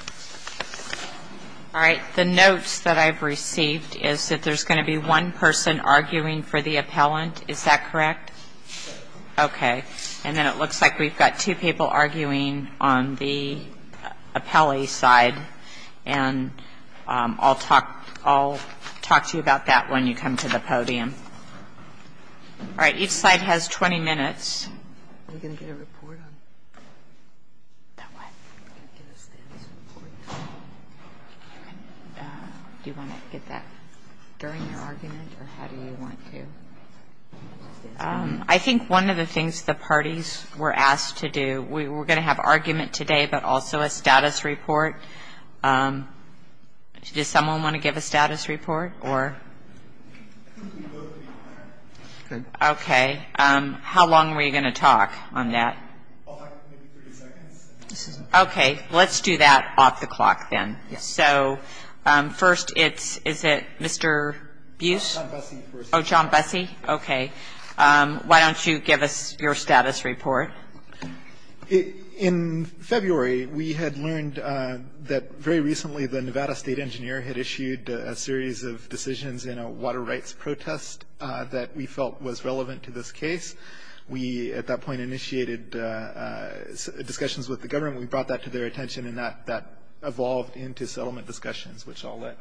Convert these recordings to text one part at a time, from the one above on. All right. The notes that I've received is that there's going to be one person arguing for the appellant. Is that correct? Okay. And then it looks like we've got two people arguing on the appellee side. And I'll talk to you about that when you come to the podium. All right. Each side has 20 minutes. Are we going to get a report on it? That what? Are we going to get a status report? Do you want to get that during your argument, or how do you want to get it? I think one of the things the parties were asked to do, we're going to have argument today, but also a status report. Does someone want to give a status report? Okay. How long are we going to talk on that? I'll talk maybe 30 seconds. Okay. Let's do that off the clock then. So first it's, is it Mr. Buse? John Busey. Oh, John Busey. Okay. Why don't you give us your status report? In February, we had learned that very recently the Nevada State Engineer had issued a series of decisions in a water rights protest that we felt was relevant to this case. We, at that point, initiated discussions with the government. We brought that to their attention, and that evolved into settlement discussions, which I'll let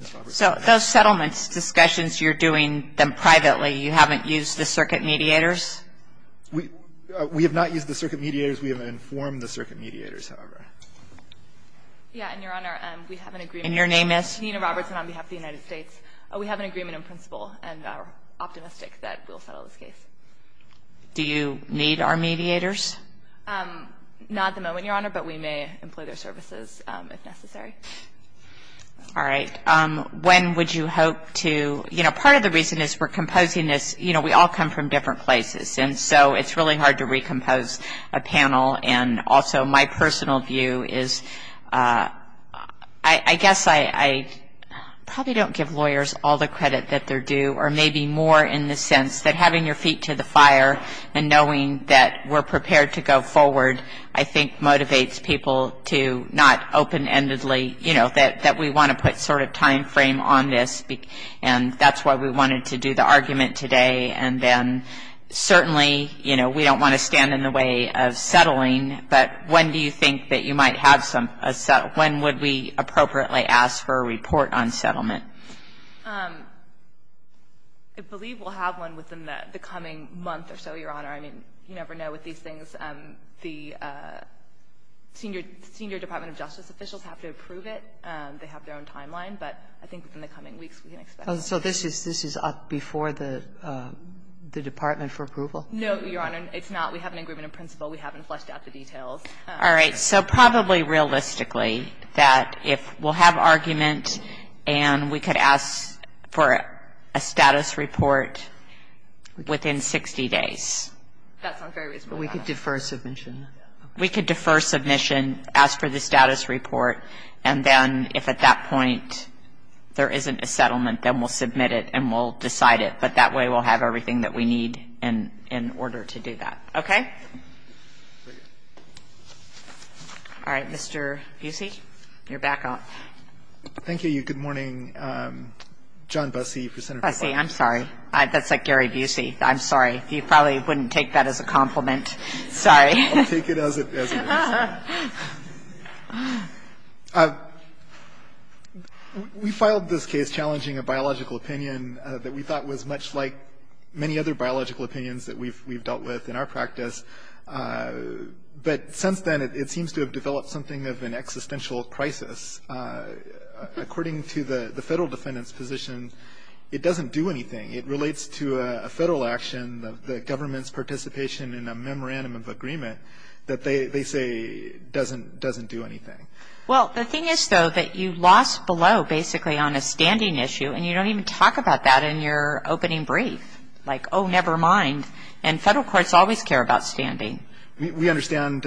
Ms. Roberts. So those settlement discussions, you're doing them privately? You haven't used the circuit mediators? We have not used the circuit mediators. We have informed the circuit mediators, however. Yeah. And, Your Honor, we have an agreement. And your name is? Nina Roberts, and on behalf of the United States. We have an agreement in principle and are optimistic that we'll settle this case. Do you need our mediators? Not at the moment, Your Honor, but we may employ their services if necessary. All right. When would you hope to, you know, part of the reason is we're composing this, you know, we all come from different places, and so it's really hard to recompose a panel, and also my personal view is I guess I probably don't give lawyers all the credit that they're due, or maybe more in the sense that having your feet to the fire and knowing that we're prepared to go forward, I think, motivates people to not open-endedly, you know, that we want to put sort of time frame on this, and that's why we wanted to do the argument today, and then certainly, you know, we don't want to stand in the way of settling, but when do you think that you might have some, when would we appropriately ask for a report on settlement? I believe we'll have one within the coming month or so, Your Honor. I mean, you never know with these things. The senior Department of Justice officials have to approve it. They have their own timeline, but I think within the coming weeks we can expect it. So this is before the Department for approval? No, Your Honor. It's not. We have an agreement in principle. We haven't fleshed out the details. All right. So probably realistically that if we'll have argument and we could ask for a status report within 60 days. That's not very reasonable. We could defer submission. We could defer submission, ask for the status report, and then if at that point there isn't a settlement, then we'll submit it and we'll decide it. But that way we'll have everything that we need in order to do that. Okay? All right. Mr. Busey, you're back on. Thank you. Good morning. John Busey. Busey, I'm sorry. That's like Gary Busey. I'm sorry. He probably wouldn't take that as a compliment. Sorry. I'll take it as it is. We filed this case challenging a biological opinion that we thought was much like many other biological opinions that we've dealt with in our practice. But since then it seems to have developed something of an existential crisis. According to the Federal Defendant's position, it doesn't do anything. It relates to a Federal action, the government's participation in a memorandum of agreement, that they say doesn't do anything. Well, the thing is, though, that you lost below basically on a standing issue, and you don't even talk about that in your opening brief. Like, oh, never mind. And Federal courts always care about standing. We understand.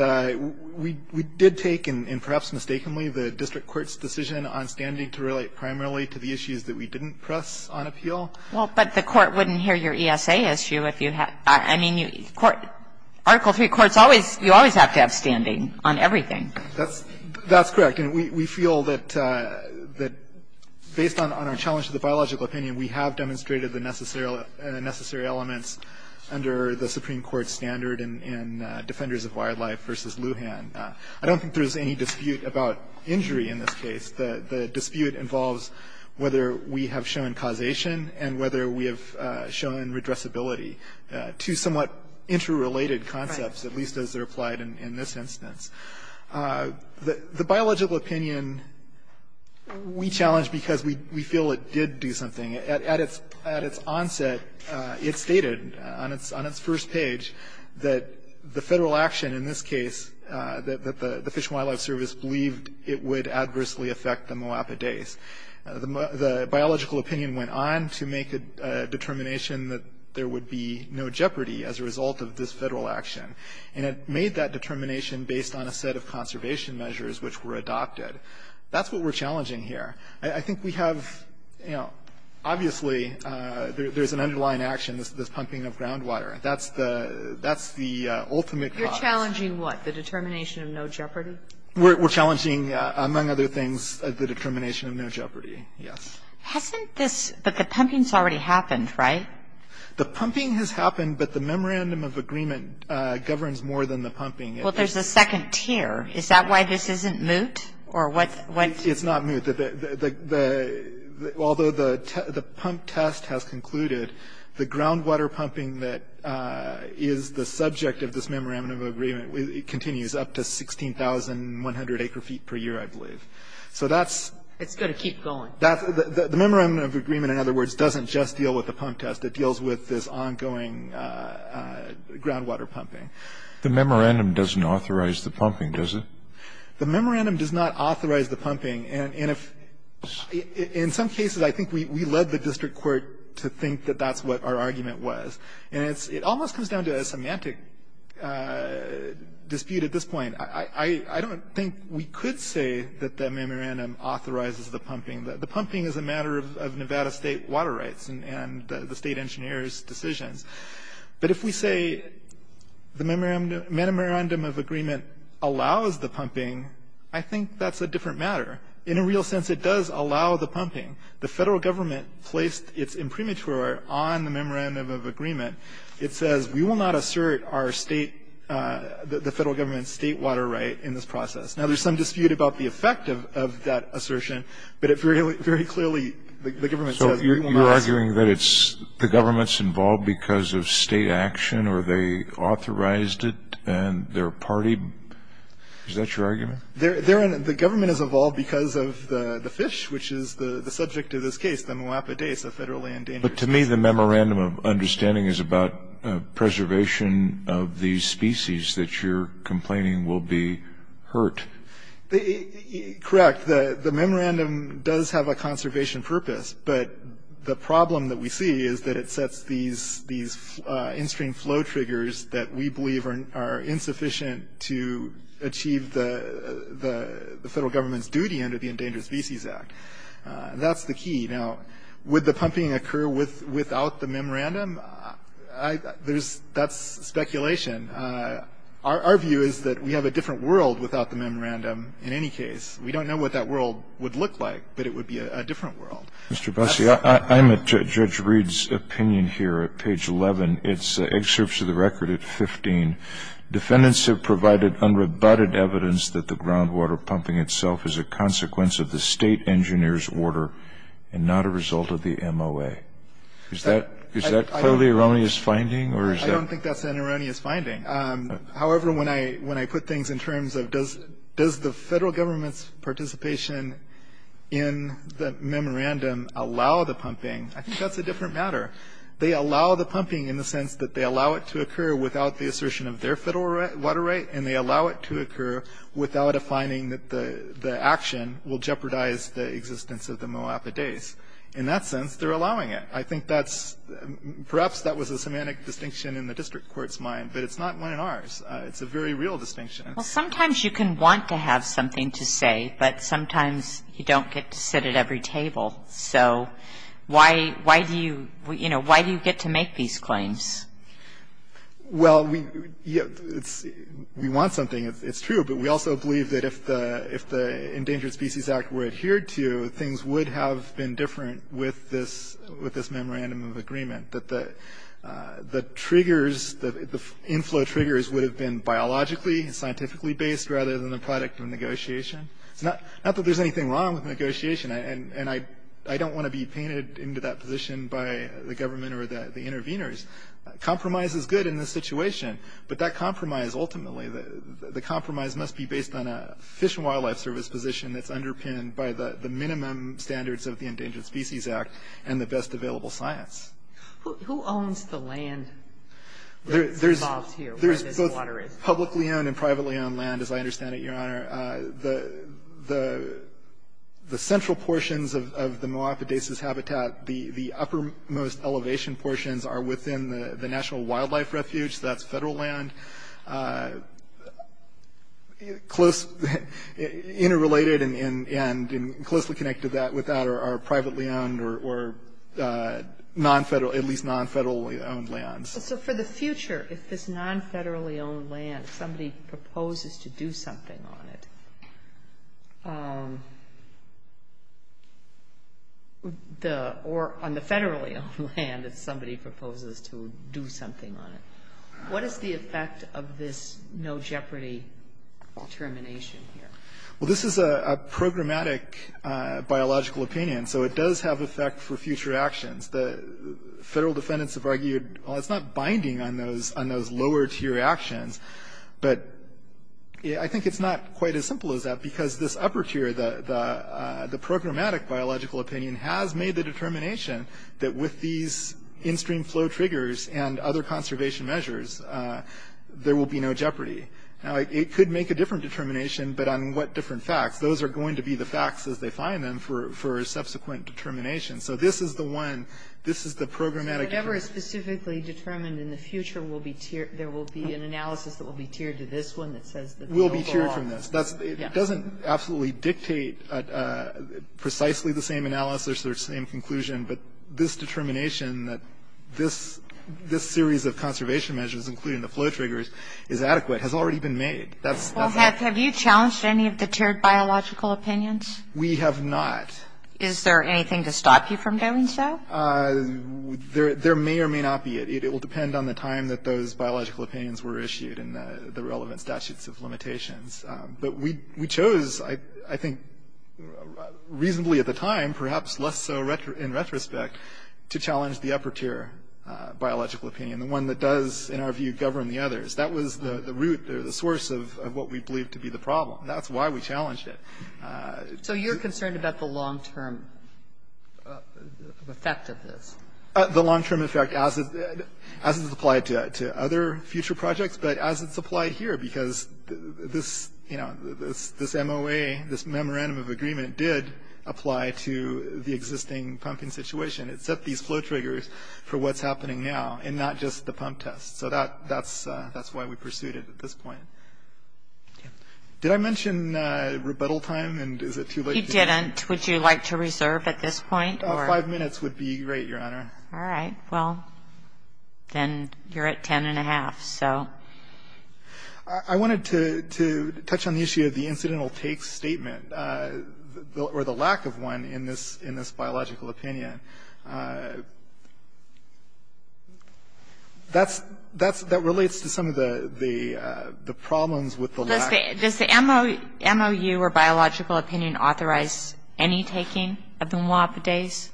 We did take, and perhaps mistakenly, the district court's decision on standing to relate primarily to the issues that we didn't press on appeal. Well, but the court wouldn't hear your ESA issue if you had to. I mean, Article III courts, you always have to have standing on everything. That's correct. And we feel that based on our challenge to the biological opinion, we have demonstrated the necessary elements under the Supreme Court standard in Defenders of Wildlife v. Lujan. I don't think there's any dispute about injury in this case. The dispute involves whether we have shown causation and whether we have shown redressability, two somewhat interrelated concepts, at least as they're applied in this instance. The biological opinion we challenged because we feel it did do something. At its onset, it stated on its first page that the Federal action in this case, that the Fish and Wildlife Service believed it would adversely affect the moapidace. The biological opinion went on to make a determination that there would be no jeopardy as a result of this Federal action. And it made that determination based on a set of conservation measures which were adopted. That's what we're challenging here. I think we have, you know, obviously there's an underlying action, this pumping of groundwater. That's the ultimate cause. But you're challenging what? The determination of no jeopardy? We're challenging, among other things, the determination of no jeopardy. Yes. Hasn't this, but the pumping's already happened, right? The pumping has happened, but the memorandum of agreement governs more than the pumping. Well, there's a second tier. Is that why this isn't moot? Or what's? It's not moot. Although the pump test has concluded, the groundwater pumping that is the subject of this memorandum of agreement continues up to 16,100 acre feet per year, I believe. So that's. It's got to keep going. The memorandum of agreement, in other words, doesn't just deal with the pump test. It deals with this ongoing groundwater pumping. The memorandum doesn't authorize the pumping, does it? The memorandum does not authorize the pumping. And if, in some cases, I think we led the district court to think that that's what our argument was. And it almost comes down to a semantic dispute at this point. I don't think we could say that the memorandum authorizes the pumping. The pumping is a matter of Nevada state water rights and the state engineer's decisions. But if we say the memorandum of agreement allows the pumping, I think that's a different matter. In a real sense, it does allow the pumping. The federal government placed its imprimatur on the memorandum of agreement. It says we will not assert the federal government's state water right in this process. Now, there's some dispute about the effect of that assertion, but very clearly the government says we will not. So you're arguing that the government's involved because of state action or they authorized it and their party? Is that your argument? The government is involved because of the fish, which is the subject of this case, the Moapa dace, a federally endangered species. But to me, the memorandum of understanding is about preservation of these species that you're complaining will be hurt. Correct. The memorandum does have a conservation purpose. But the problem that we see is that it sets these in-stream flow triggers that we believe are insufficient to achieve the federal government's duty under the Endangered Species Act. That's the key. Now, would the pumping occur without the memorandum? That's speculation. Our view is that we have a different world without the memorandum in any case. We don't know what that world would look like, but it would be a different world. Mr. Busse, I'm at Judge Reed's opinion here at page 11. It's excerpts of the record at 15. Defendants have provided unrebutted evidence that the groundwater pumping itself is a consequence of the state engineer's order and not a result of the MOA. Is that clearly an erroneous finding? I don't think that's an erroneous finding. However, when I put things in terms of does the federal government's participation in the memorandum allow the pumping, I think that's a different matter. They allow the pumping in the sense that they allow it to occur without the assertion of their federal water right, and they allow it to occur without a finding that the action will jeopardize the existence of the Moapa days. In that sense, they're allowing it. I think that's perhaps that was a semantic distinction in the district court's mind, but it's not one in ours. It's a very real distinction. Well, sometimes you can want to have something to say, but sometimes you don't get to sit at every table. So why do you get to make these claims? Well, we want something. It's true, but we also believe that if the Endangered Species Act were adhered to, that things would have been different with this memorandum of agreement, that the triggers, the inflow triggers would have been biologically and scientifically based rather than the product of negotiation. It's not that there's anything wrong with negotiation, and I don't want to be painted into that position by the government or the interveners. Compromise is good in this situation, but that compromise ultimately, the compromise must be based on a Fish and Wildlife Service position that's underpinned by the minimum standards of the Endangered Species Act and the best available science. Who owns the land that's involved here, where this water is? There's both publicly owned and privately owned land, as I understand it, Your Honor. The central portions of the Moapa daises habitat, the uppermost elevation portions are within the National Wildlife Refuge. That's Federal land. Close, interrelated and closely connected with that are privately owned or non-Federal, at least non-Federally owned lands. So for the future, if this non-Federally owned land, somebody proposes to do something on it, what is the effect of this no-jeopardy determination here? Well, this is a programmatic biological opinion, so it does have effect for future actions. The Federal defendants have argued, well, it's not binding on those lower-tier actions, but I think it's not quite as simple as that, because this upper tier, the programmatic biological opinion has made the determination that with these in-stream flow triggers and other conservation measures, there will be no jeopardy. Now, it could make a different determination, but on what different facts? Those are going to be the facts as they find them for subsequent determination. So this is the one. This is the programmatic determination. So whatever is specifically determined in the future, there will be an analysis that will be tiered to this one that says the bill belongs? Will be tiered from this. It doesn't absolutely dictate precisely the same analysis or same conclusion, but this determination that this series of conservation measures, including the flow triggers, is adequate, has already been made. Well, have you challenged any of the tiered biological opinions? We have not. Is there anything to stop you from doing so? There may or may not be. It will depend on the time that those biological opinions were issued and the relevant statutes of limitations. But we chose, I think, reasonably at the time, perhaps less so in retrospect, to challenge the upper tier biological opinion, the one that does, in our view, govern the others. That was the root or the source of what we believed to be the problem. That's why we challenged it. So you're concerned about the long-term effect of this? The long-term effect as it's applied to other future projects, but as it's applied here, because this MOA, this memorandum of agreement, did apply to the existing pumping situation. It set these flow triggers for what's happening now and not just the pump test. So that's why we pursued it at this point. Did I mention rebuttal time, and is it too late? You didn't. Would you like to reserve at this point? Five minutes would be great, Your Honor. All right. Well, then you're at ten and a half, so. I wanted to touch on the issue of the incidental take statement or the lack of one in this biological opinion. That relates to some of the problems with the lack. Does the MOU or biological opinion authorize any taking of the Moapidase?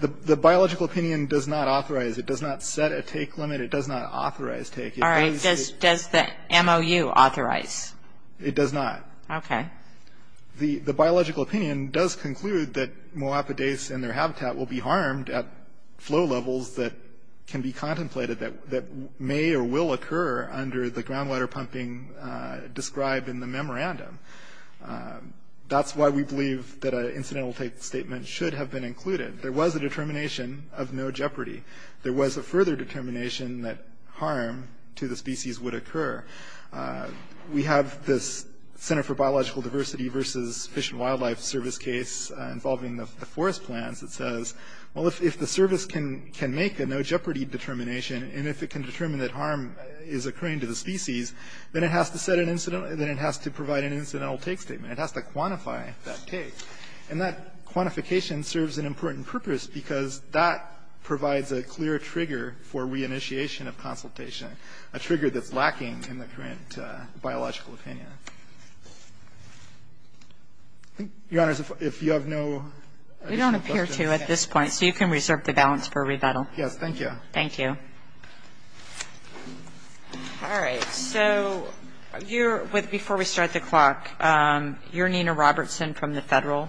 The biological opinion does not authorize. It does not set a take limit. It does not authorize take. All right. Does the MOU authorize? It does not. Okay. The biological opinion does conclude that Moapidase and their habitat will be harmed at flow levels that can be contemplated that may or will occur under the groundwater pumping described in the memorandum. That's why we believe that an incidental take statement should have been included. There was a determination of no jeopardy. There was a further determination that harm to the species would occur. We have this Center for Biological Diversity versus Fish and Wildlife Service case involving the forest plans. It says, well, if the service can make a no-jeopardy determination, and if it can determine that harm is occurring to the species, then it has to set an incidental – then it has to provide an incidental take statement. It has to quantify that take. And that quantification serves an important purpose because that provides a clear trigger for reinitiation of consultation, a trigger that's lacking in the current biological opinion. So you can reserve the balance for rebuttal. Yes, thank you. Thank you. All right. So before we start the clock, you're Nina Robertson from the federal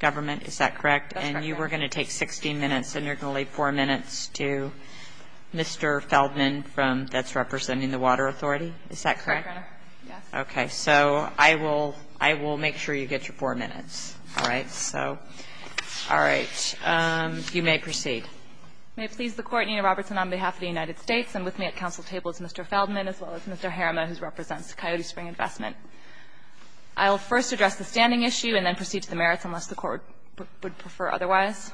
government, is that correct? That's correct. And you were going to take 16 minutes, and you're going to leave four minutes to Mr. Feldman that's representing the Water Authority, is that correct? That's correct, yes. Okay. So I will make sure you get your four minutes. All right. You may proceed. May it please the Court, Nina Robertson, on behalf of the United States, and with me at counsel's table is Mr. Feldman, as well as Mr. Harama, who represents Coyote Spring Investment. I will first address the standing issue and then proceed to the merits unless the Court would prefer otherwise.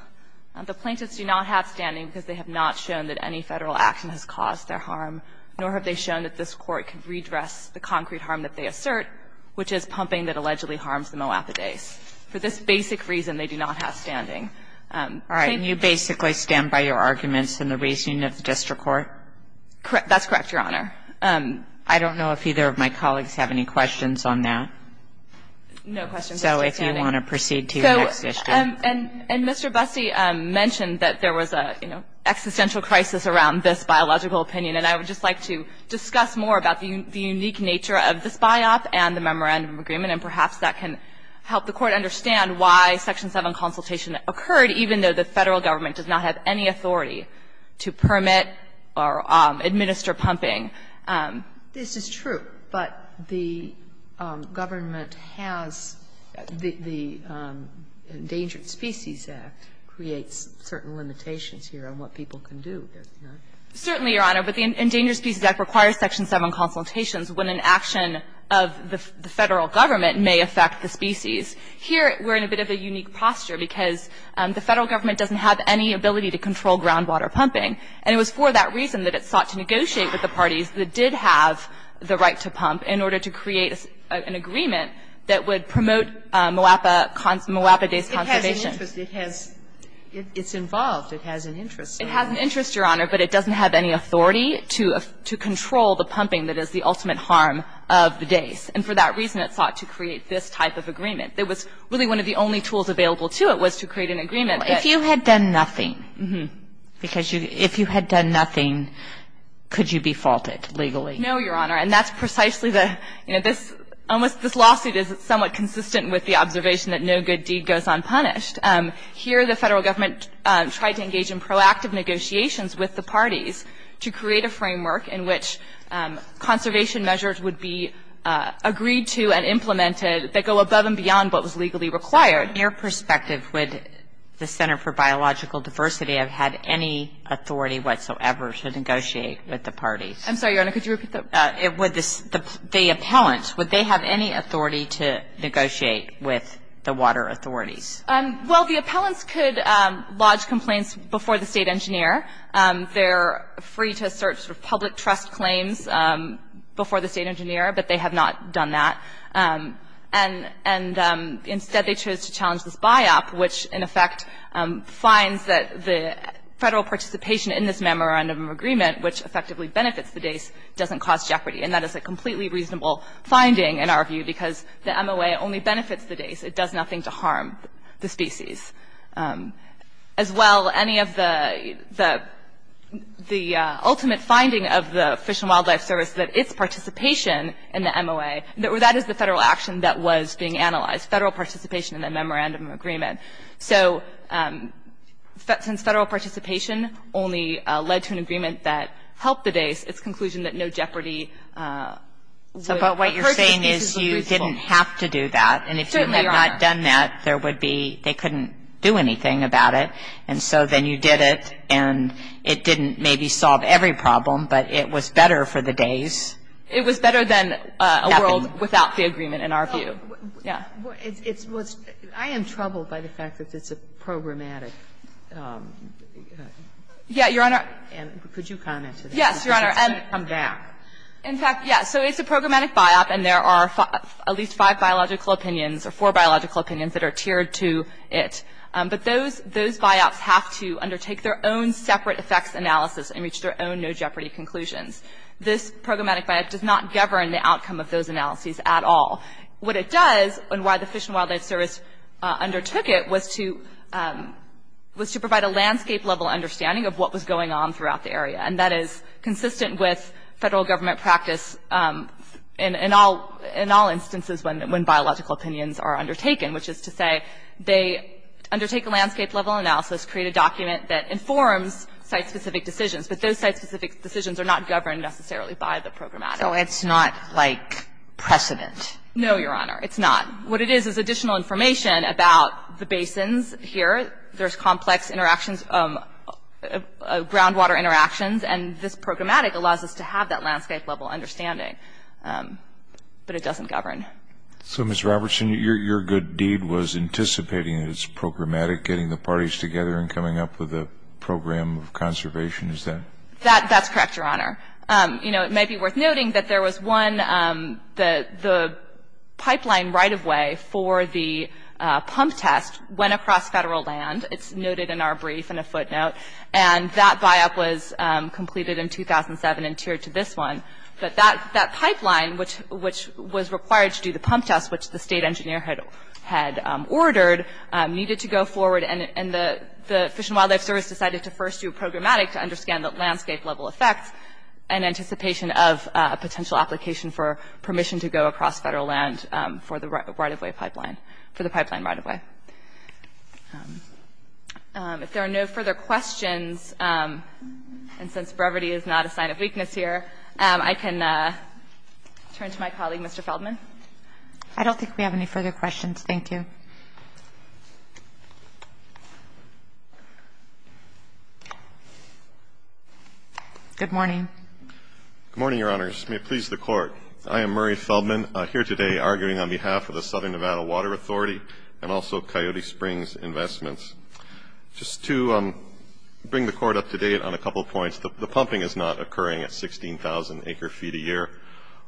The plaintiffs do not have standing because they have not shown that any federal action has caused their harm, nor have they shown that this Court can redress the concrete harm that they assert, which is pumping that allegedly harms the Moabitace. For this basic reason, they do not have standing. All right. And you basically stand by your arguments in the reasoning of the district court? That's correct, Your Honor. I don't know if either of my colleagues have any questions on that. No questions. So if you want to proceed to your next issue. And Mr. Busty mentioned that there was a, you know, existential crisis around this biological opinion, and I would just like to discuss more about the unique nature of this biop and the memorandum agreement, and perhaps that can help the Court understand why Section 7 consultation occurred, even though the Federal Government does not have any authority to permit or administer pumping. This is true, but the government has the Endangered Species Act creates certain limitations here on what people can do, doesn't it? Certainly, Your Honor, but the Endangered Species Act requires Section 7 consultations when an action of the Federal Government may affect the species. Here, we're in a bit of a unique posture because the Federal Government doesn't have any ability to control groundwater pumping, and it was for that reason that it sought to negotiate with the parties that did have the right to pump in order to create an agreement that would promote Moapa-based conservation. It has an interest. It's involved. It has an interest. It has an interest, Your Honor, but it doesn't have any authority to control the pumping that is the ultimate harm of the dais. And for that reason, it sought to create this type of agreement. It was really one of the only tools available to it was to create an agreement that you had done nothing. Because if you had done nothing, could you be faulted legally? No, Your Honor. And that's precisely the, you know, this almost this lawsuit is somewhat consistent with the observation that no good deed goes unpunished. Here, the Federal Government tried to engage in proactive negotiations with the parties to create a framework in which conservation measures would be agreed to and implemented that go above and beyond what was legally required. From your perspective, would the Center for Biological Diversity have had any authority whatsoever to negotiate with the parties? I'm sorry, Your Honor. Could you repeat that? Would the appellants, would they have any authority to negotiate with the water authorities? Well, the appellants could lodge complaints before the state engineer. They're free to assert sort of public trust claims before the state engineer, but they have not done that. And instead, they chose to challenge this buy-up, which, in effect, finds that the federal participation in this memorandum of agreement, which effectively benefits the dace, doesn't cause jeopardy. And that is a completely reasonable finding, in our view, because the MOA only benefits the dace. It does nothing to harm the species. As well, any of the ultimate finding of the Fish and Wildlife Service, that its participation in the MOA, that is the federal action that was being analyzed, federal participation in the memorandum of agreement. So since federal participation only led to an agreement that helped the dace, its conclusion that no jeopardy would hurt the species was reasonable. So what you're saying is you didn't have to do that. Certainly, Your Honor. If you had done that, there would be they couldn't do anything about it. And so then you did it, and it didn't maybe solve every problem, but it was better for the dace. It was better than a world without the agreement, in our view. Yeah. I am troubled by the fact that it's a programmatic. Yeah, Your Honor. Could you comment to that? Yes, Your Honor. In fact, yeah. So it's a programmatic buy-up, and there are at least five biological opinions or four biological opinions that are tiered to it. But those buy-ups have to undertake their own separate effects analysis and reach their own no jeopardy conclusions. This programmatic buy-up does not govern the outcome of those analyses at all. What it does, and why the Fish and Wildlife Service undertook it, was to provide a landscape-level understanding of what was going on throughout the area, and that is consistent with federal government practice in all instances when biological opinions are undertaken, which is to say they undertake a landscape-level analysis, create a document that informs site-specific decisions. But those site-specific decisions are not governed necessarily by the programmatic. So it's not like precedent? No, Your Honor. It's not. What it is is additional information about the basins here. There's complex interactions, groundwater interactions, and this programmatic allows us to have that landscape-level understanding. But it doesn't govern. So, Ms. Robertson, your good deed was anticipating that it's programmatic, getting the parties together and coming up with a program of conservation, is that? That's correct, Your Honor. You know, it may be worth noting that there was one, the pipeline right-of-way for the pump test went across federal land. It's noted in our brief in a footnote. And that buy-up was completed in 2007 and tiered to this one. But that pipeline, which was required to do the pump test, which the state engineer had ordered, needed to go forward. And the Fish and Wildlife Service decided to first do a programmatic to understand the landscape-level effects and anticipation of a potential application for permission to go across federal land for the right-of-way pipeline, for the pipeline right-of-way. If there are no further questions, and since brevity is not a sign of weakness here, I can turn to my colleague, Mr. Feldman. I don't think we have any further questions. Thank you. Good morning. Good morning, Your Honors. May it please the Court. I am Murray Feldman, here today arguing on behalf of the Southern Nevada Water Authority and also Coyote Springs Investments. Just to bring the Court up to date on a couple of points, the pumping is not occurring at 16,000 acre-feet a year.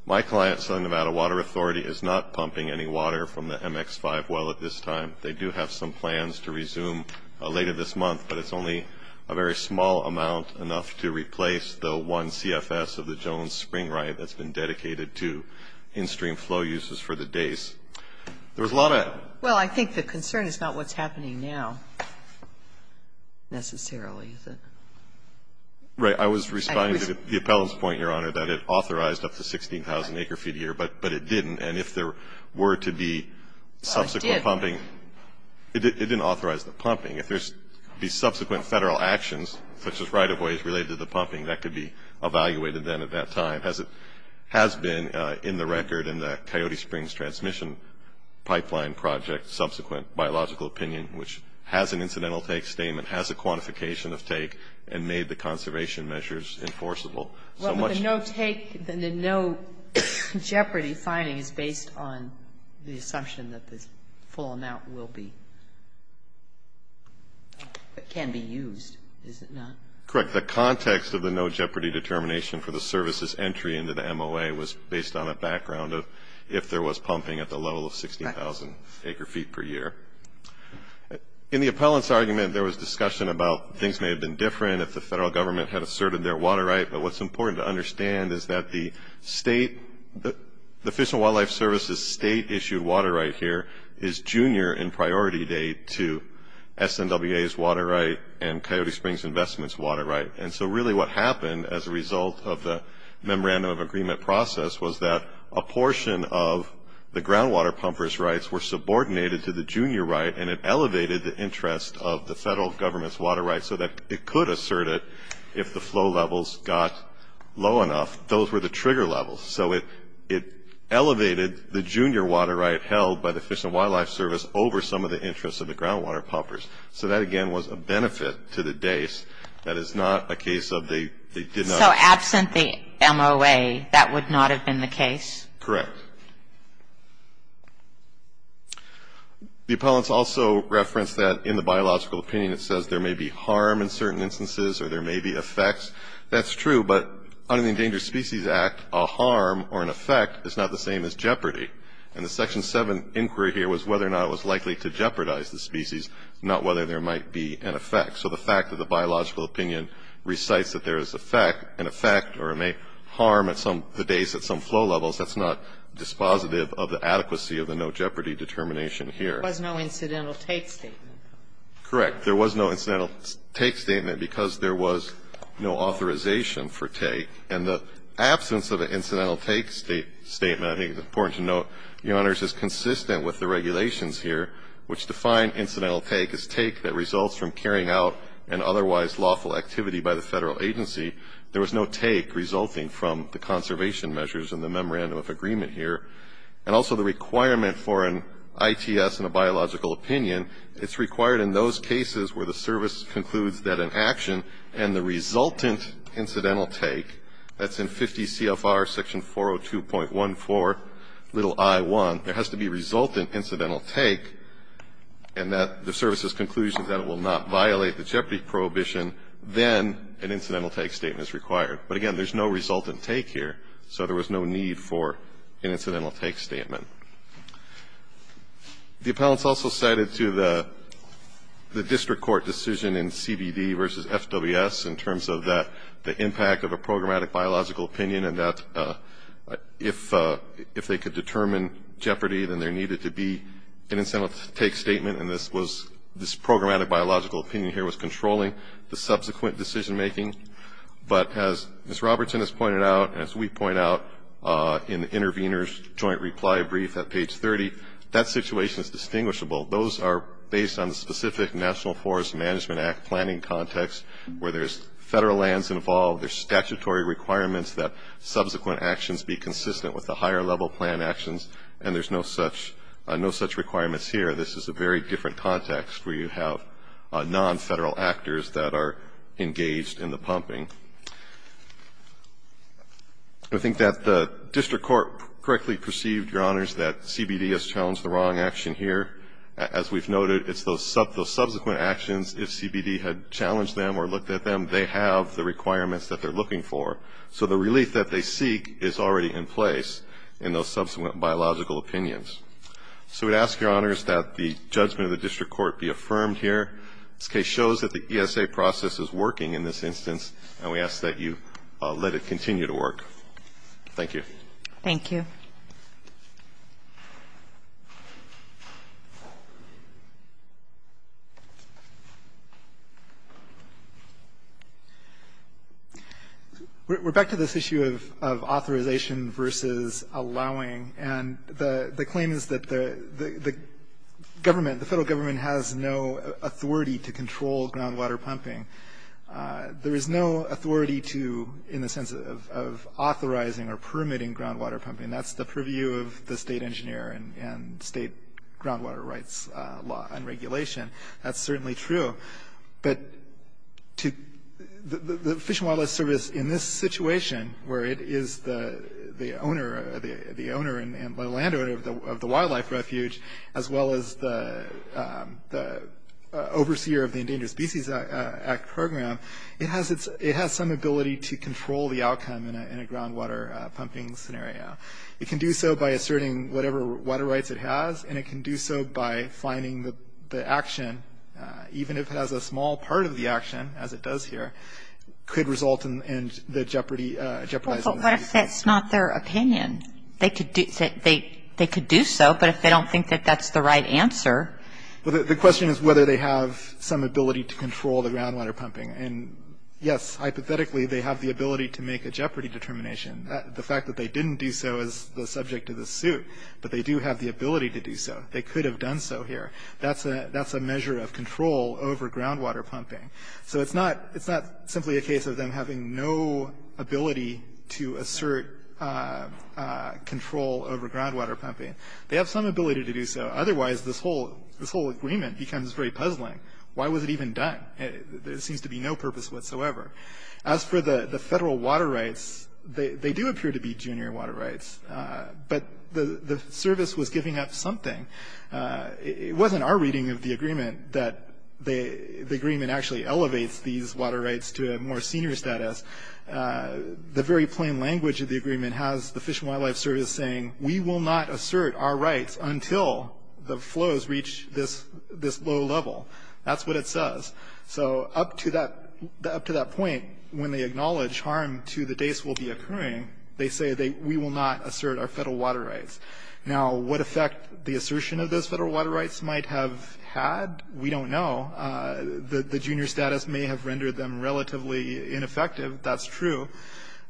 My client, Southern Nevada Water Authority, is not pumping any water from the MX-5 well at this time. They do have some plans to resume later this month, but it's only a very small amount enough to replace the one CFS of the Jones Spring Riot that's been dedicated to in-stream flow uses for the days. There was a lot of Well, I think the concern is not what's happening now, necessarily. Right. I was responding to the appellant's point, Your Honor, that it authorized up to 16,000 acre-feet a year, but it didn't. And if there were to be subsequent pumping Well, it did. It didn't authorize the pumping. If there's the subsequent Federal actions, such as right-of-ways related to the pumping, that could be evaluated then at that time. It has been in the record in the Coyote Springs Transmission Pipeline Project subsequent biological opinion, which has an incidental take statement, has a quantification of take, and made the conservation measures enforceable. But the no-take, the no-jeopardy finding is based on the assumption that this full amount will be or can be used, is it not? Correct. But the context of the no-jeopardy determination for the service's entry into the MOA was based on a background of if there was pumping at the level of 60,000 acre-feet per year. In the appellant's argument, there was discussion about things may have been different if the Federal Government had asserted their water right, but what's important to understand is that the Fish and Wildlife Service's state-issued water right here is junior in priority date to SNWA's water right and Coyote Springs Investments' water right. And so really what happened as a result of the Memorandum of Agreement process was that a portion of the groundwater pumpers' rights were subordinated to the junior right, and it elevated the interest of the Federal Government's water right so that it could assert it if the flow levels got low enough. Those were the trigger levels. So it elevated the junior water right held by the Fish and Wildlife Service over some of the interests of the groundwater pumpers. So that, again, was a benefit to the days. That is not a case of they did not. So absent the MOA, that would not have been the case? Correct. The appellants also referenced that in the biological opinion it says there may be harm in certain instances or there may be effects. That's true, but under the Endangered Species Act, a harm or an effect is not the same as jeopardy. And the Section 7 inquiry here was whether or not it was likely to jeopardize the species, not whether there might be an effect. So the fact that the biological opinion recites that there is an effect or may harm at some of the days at some flow levels, that's not dispositive of the adequacy of the no jeopardy determination here. There was no incidental take statement. Correct. There was no incidental take statement because there was no authorization for take. Your Honors, as consistent with the regulations here, which define incidental take as take that results from carrying out an otherwise lawful activity by the Federal agency, there was no take resulting from the conservation measures in the memorandum of agreement here. And also the requirement for an ITS in a biological opinion, it's required in those cases where the service concludes that an action and the resultant little I1, there has to be resultant incidental take, and that the service's conclusion that it will not violate the jeopardy prohibition, then an incidental take statement is required. But again, there's no resultant take here, so there was no need for an incidental take statement. The appellants also cited to the district court decision in CBD versus FWS in terms of the impact of a programmatic biological opinion and that if they could determine jeopardy, then there needed to be an incidental take statement, and this programmatic biological opinion here was controlling the subsequent decision making. But as Ms. Robertson has pointed out and as we point out in the intervener's joint reply brief at page 30, that situation is distinguishable. Those are based on the specific National Forest Management Act planning context, where there's Federal lands involved, there's statutory requirements that subsequent actions be consistent with the higher level plan actions, and there's no such requirements here. This is a very different context where you have non-Federal actors that are engaged in the pumping. I think that the district court correctly perceived, Your Honors, that CBD has challenged the wrong action here. As we've noted, it's those subsequent actions, if CBD had challenged them or looked at them, they have the requirements that they're looking for, so the relief that they seek is already in place in those subsequent biological opinions. So we'd ask, Your Honors, that the judgment of the district court be affirmed here. This case shows that the ESA process is working in this instance, and we ask that you let it continue to work. Thank you. Thank you. We're back to this issue of authorization versus allowing. And the claim is that the government, the Federal government, has no authority to control groundwater pumping. There is no authority to, in the sense of authorizing or permitting groundwater pumping. That's the purview of the state engineer and state groundwater rights law and regulation. That's certainly true. But the Fish and Wildlife Service, in this situation, where it is the owner and landowner of the wildlife refuge, as well as the overseer of the Endangered Species Act program, it has some ability to control the outcome in a groundwater pumping scenario. It can do so by asserting whatever water rights it has, and it can do so by finding that the action, even if it has a small part of the action, as it does here, could result in the jeopardizing. Well, but what if that's not their opinion? They could do so, but if they don't think that that's the right answer. Well, the question is whether they have some ability to control the groundwater pumping. And, yes, hypothetically, they have the ability to make a jeopardy determination. The fact that they didn't do so is the subject of this suit, but they do have the ability to do so. They could have done so here. That's a measure of control over groundwater pumping. So it's not simply a case of them having no ability to assert control over groundwater pumping. They have some ability to do so. Otherwise, this whole agreement becomes very puzzling. Why was it even done? There seems to be no purpose whatsoever. As for the federal water rights, they do appear to be junior water rights, but the service was giving up something. It wasn't our reading of the agreement that the agreement actually elevates these water rights to a more senior status. The very plain language of the agreement has the Fish and Wildlife Service saying, we will not assert our rights until the flows reach this low level. That's what it says. So up to that point, when they acknowledge harm to the days will be occurring, they say, we will not assert our federal water rights. Now, what effect the assertion of those federal water rights might have had, we don't know. The junior status may have rendered them relatively ineffective. That's true.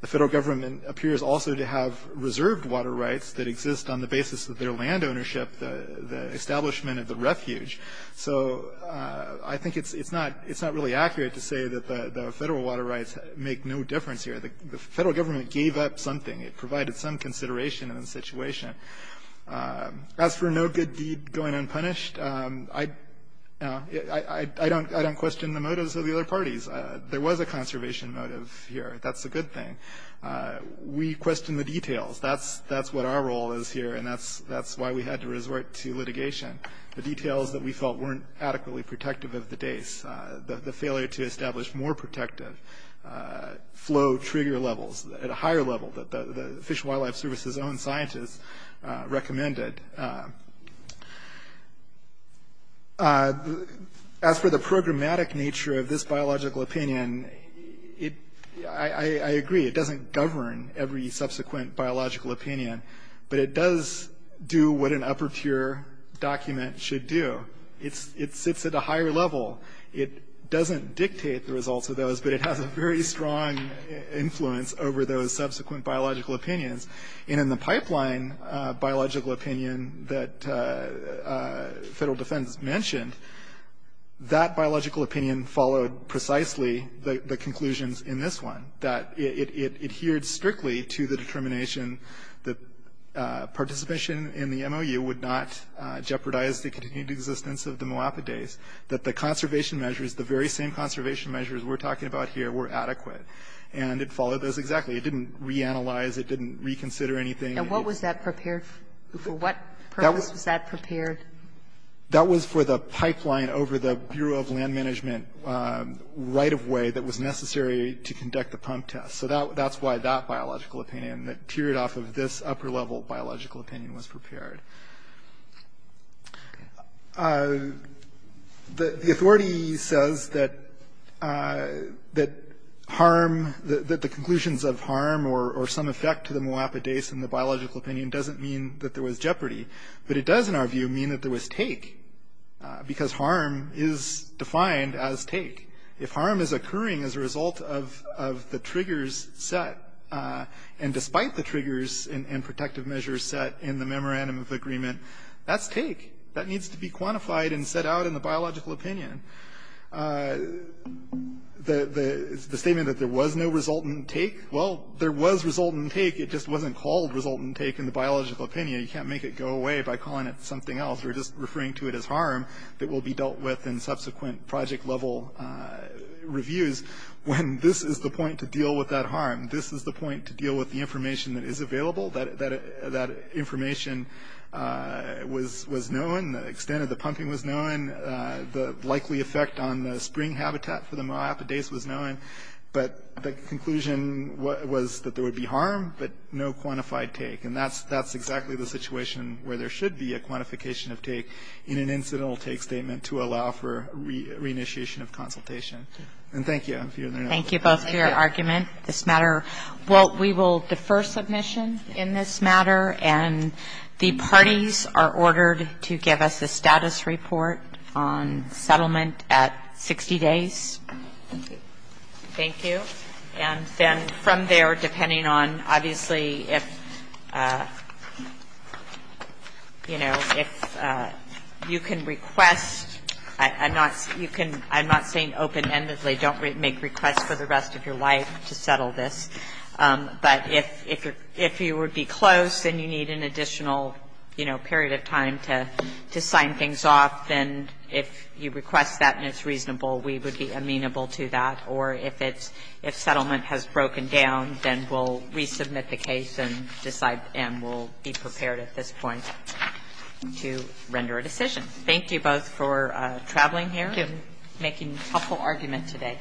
The federal government appears also to have reserved water rights that exist on the basis of their land ownership, the establishment of the refuge. So I think it's not really accurate to say that the federal water rights make no difference here. The federal government gave up something. It provided some consideration in the situation. As for no good deed going unpunished, I don't question the motives of the other parties. There was a conservation motive here. That's a good thing. We question the details. That's what our role is here, and that's why we had to resort to litigation. The details that we felt weren't adequately protective of the days, the failure to establish more protective flow trigger levels at a higher level that the Fish and Wildlife Service's own scientists recommended. As for the programmatic nature of this biological opinion, I agree, it doesn't govern every subsequent biological opinion, but it does do what an upper-tier document should do. It sits at a higher level. It doesn't dictate the results of those, but it has a very strong influence over those subsequent biological opinions. And in the pipeline biological opinion that federal defense mentioned, that biological opinion followed precisely the conclusions in this one, that it adhered strictly to the determination that participation in the MOU would not jeopardize the continued existence of the Moapa days, that the conservation measures, the very same conservation measures we're talking about here, were adequate, and it followed those exactly. It didn't reanalyze. It didn't reconsider anything. And what was that prepared for? For what purpose was that prepared? That was for the pipeline over the Bureau of Land Management right-of-way that was necessary to conduct the pump test. So that's why that biological opinion, that teared off of this upper-level biological opinion, was prepared. The authority says that harm, that the conclusions of harm or some effect to the Moapa days in the biological opinion doesn't mean that there was jeopardy, but it does, in our view, mean that there was take, because harm is defined as take. If harm is occurring as a result of the triggers set, and despite the triggers and protective measures set in the memorandum of agreement, that's take. That needs to be quantified and set out in the biological opinion. The statement that there was no resultant take, well, there was resultant take. It just wasn't called resultant take in the biological opinion. You can't make it go away by calling it something else or just referring to it as harm that will be dealt with in subsequent project-level reviews when this is the point to deal with that harm. This is the point to deal with the information that is available, that information was known. The extent of the pumping was known. The likely effect on the spring habitat for the Moapa days was known. But the conclusion was that there would be harm, but no quantified take. And that's exactly the situation where there should be a quantification of take in an incidental take statement to allow for re-initiation of consultation. And thank you. I'm feeling there now. Thank you both for your argument. This matter, well, we will defer submission in this matter. And the parties are ordered to give us a status report on settlement at 60 days. Thank you. And then from there, depending on, obviously, if, you know, if you can request. I'm not saying open-endedly don't make requests for the rest of your life to settle this. But if you would be close and you need an additional, you know, period of time to sign things off, then if you request that and it's reasonable, we would be amenable to that. Or if it's – if settlement has broken down, then we'll resubmit the case and decide and we'll be prepared at this point to render a decision. Thank you both for traveling here. Thank you. Making a helpful argument today.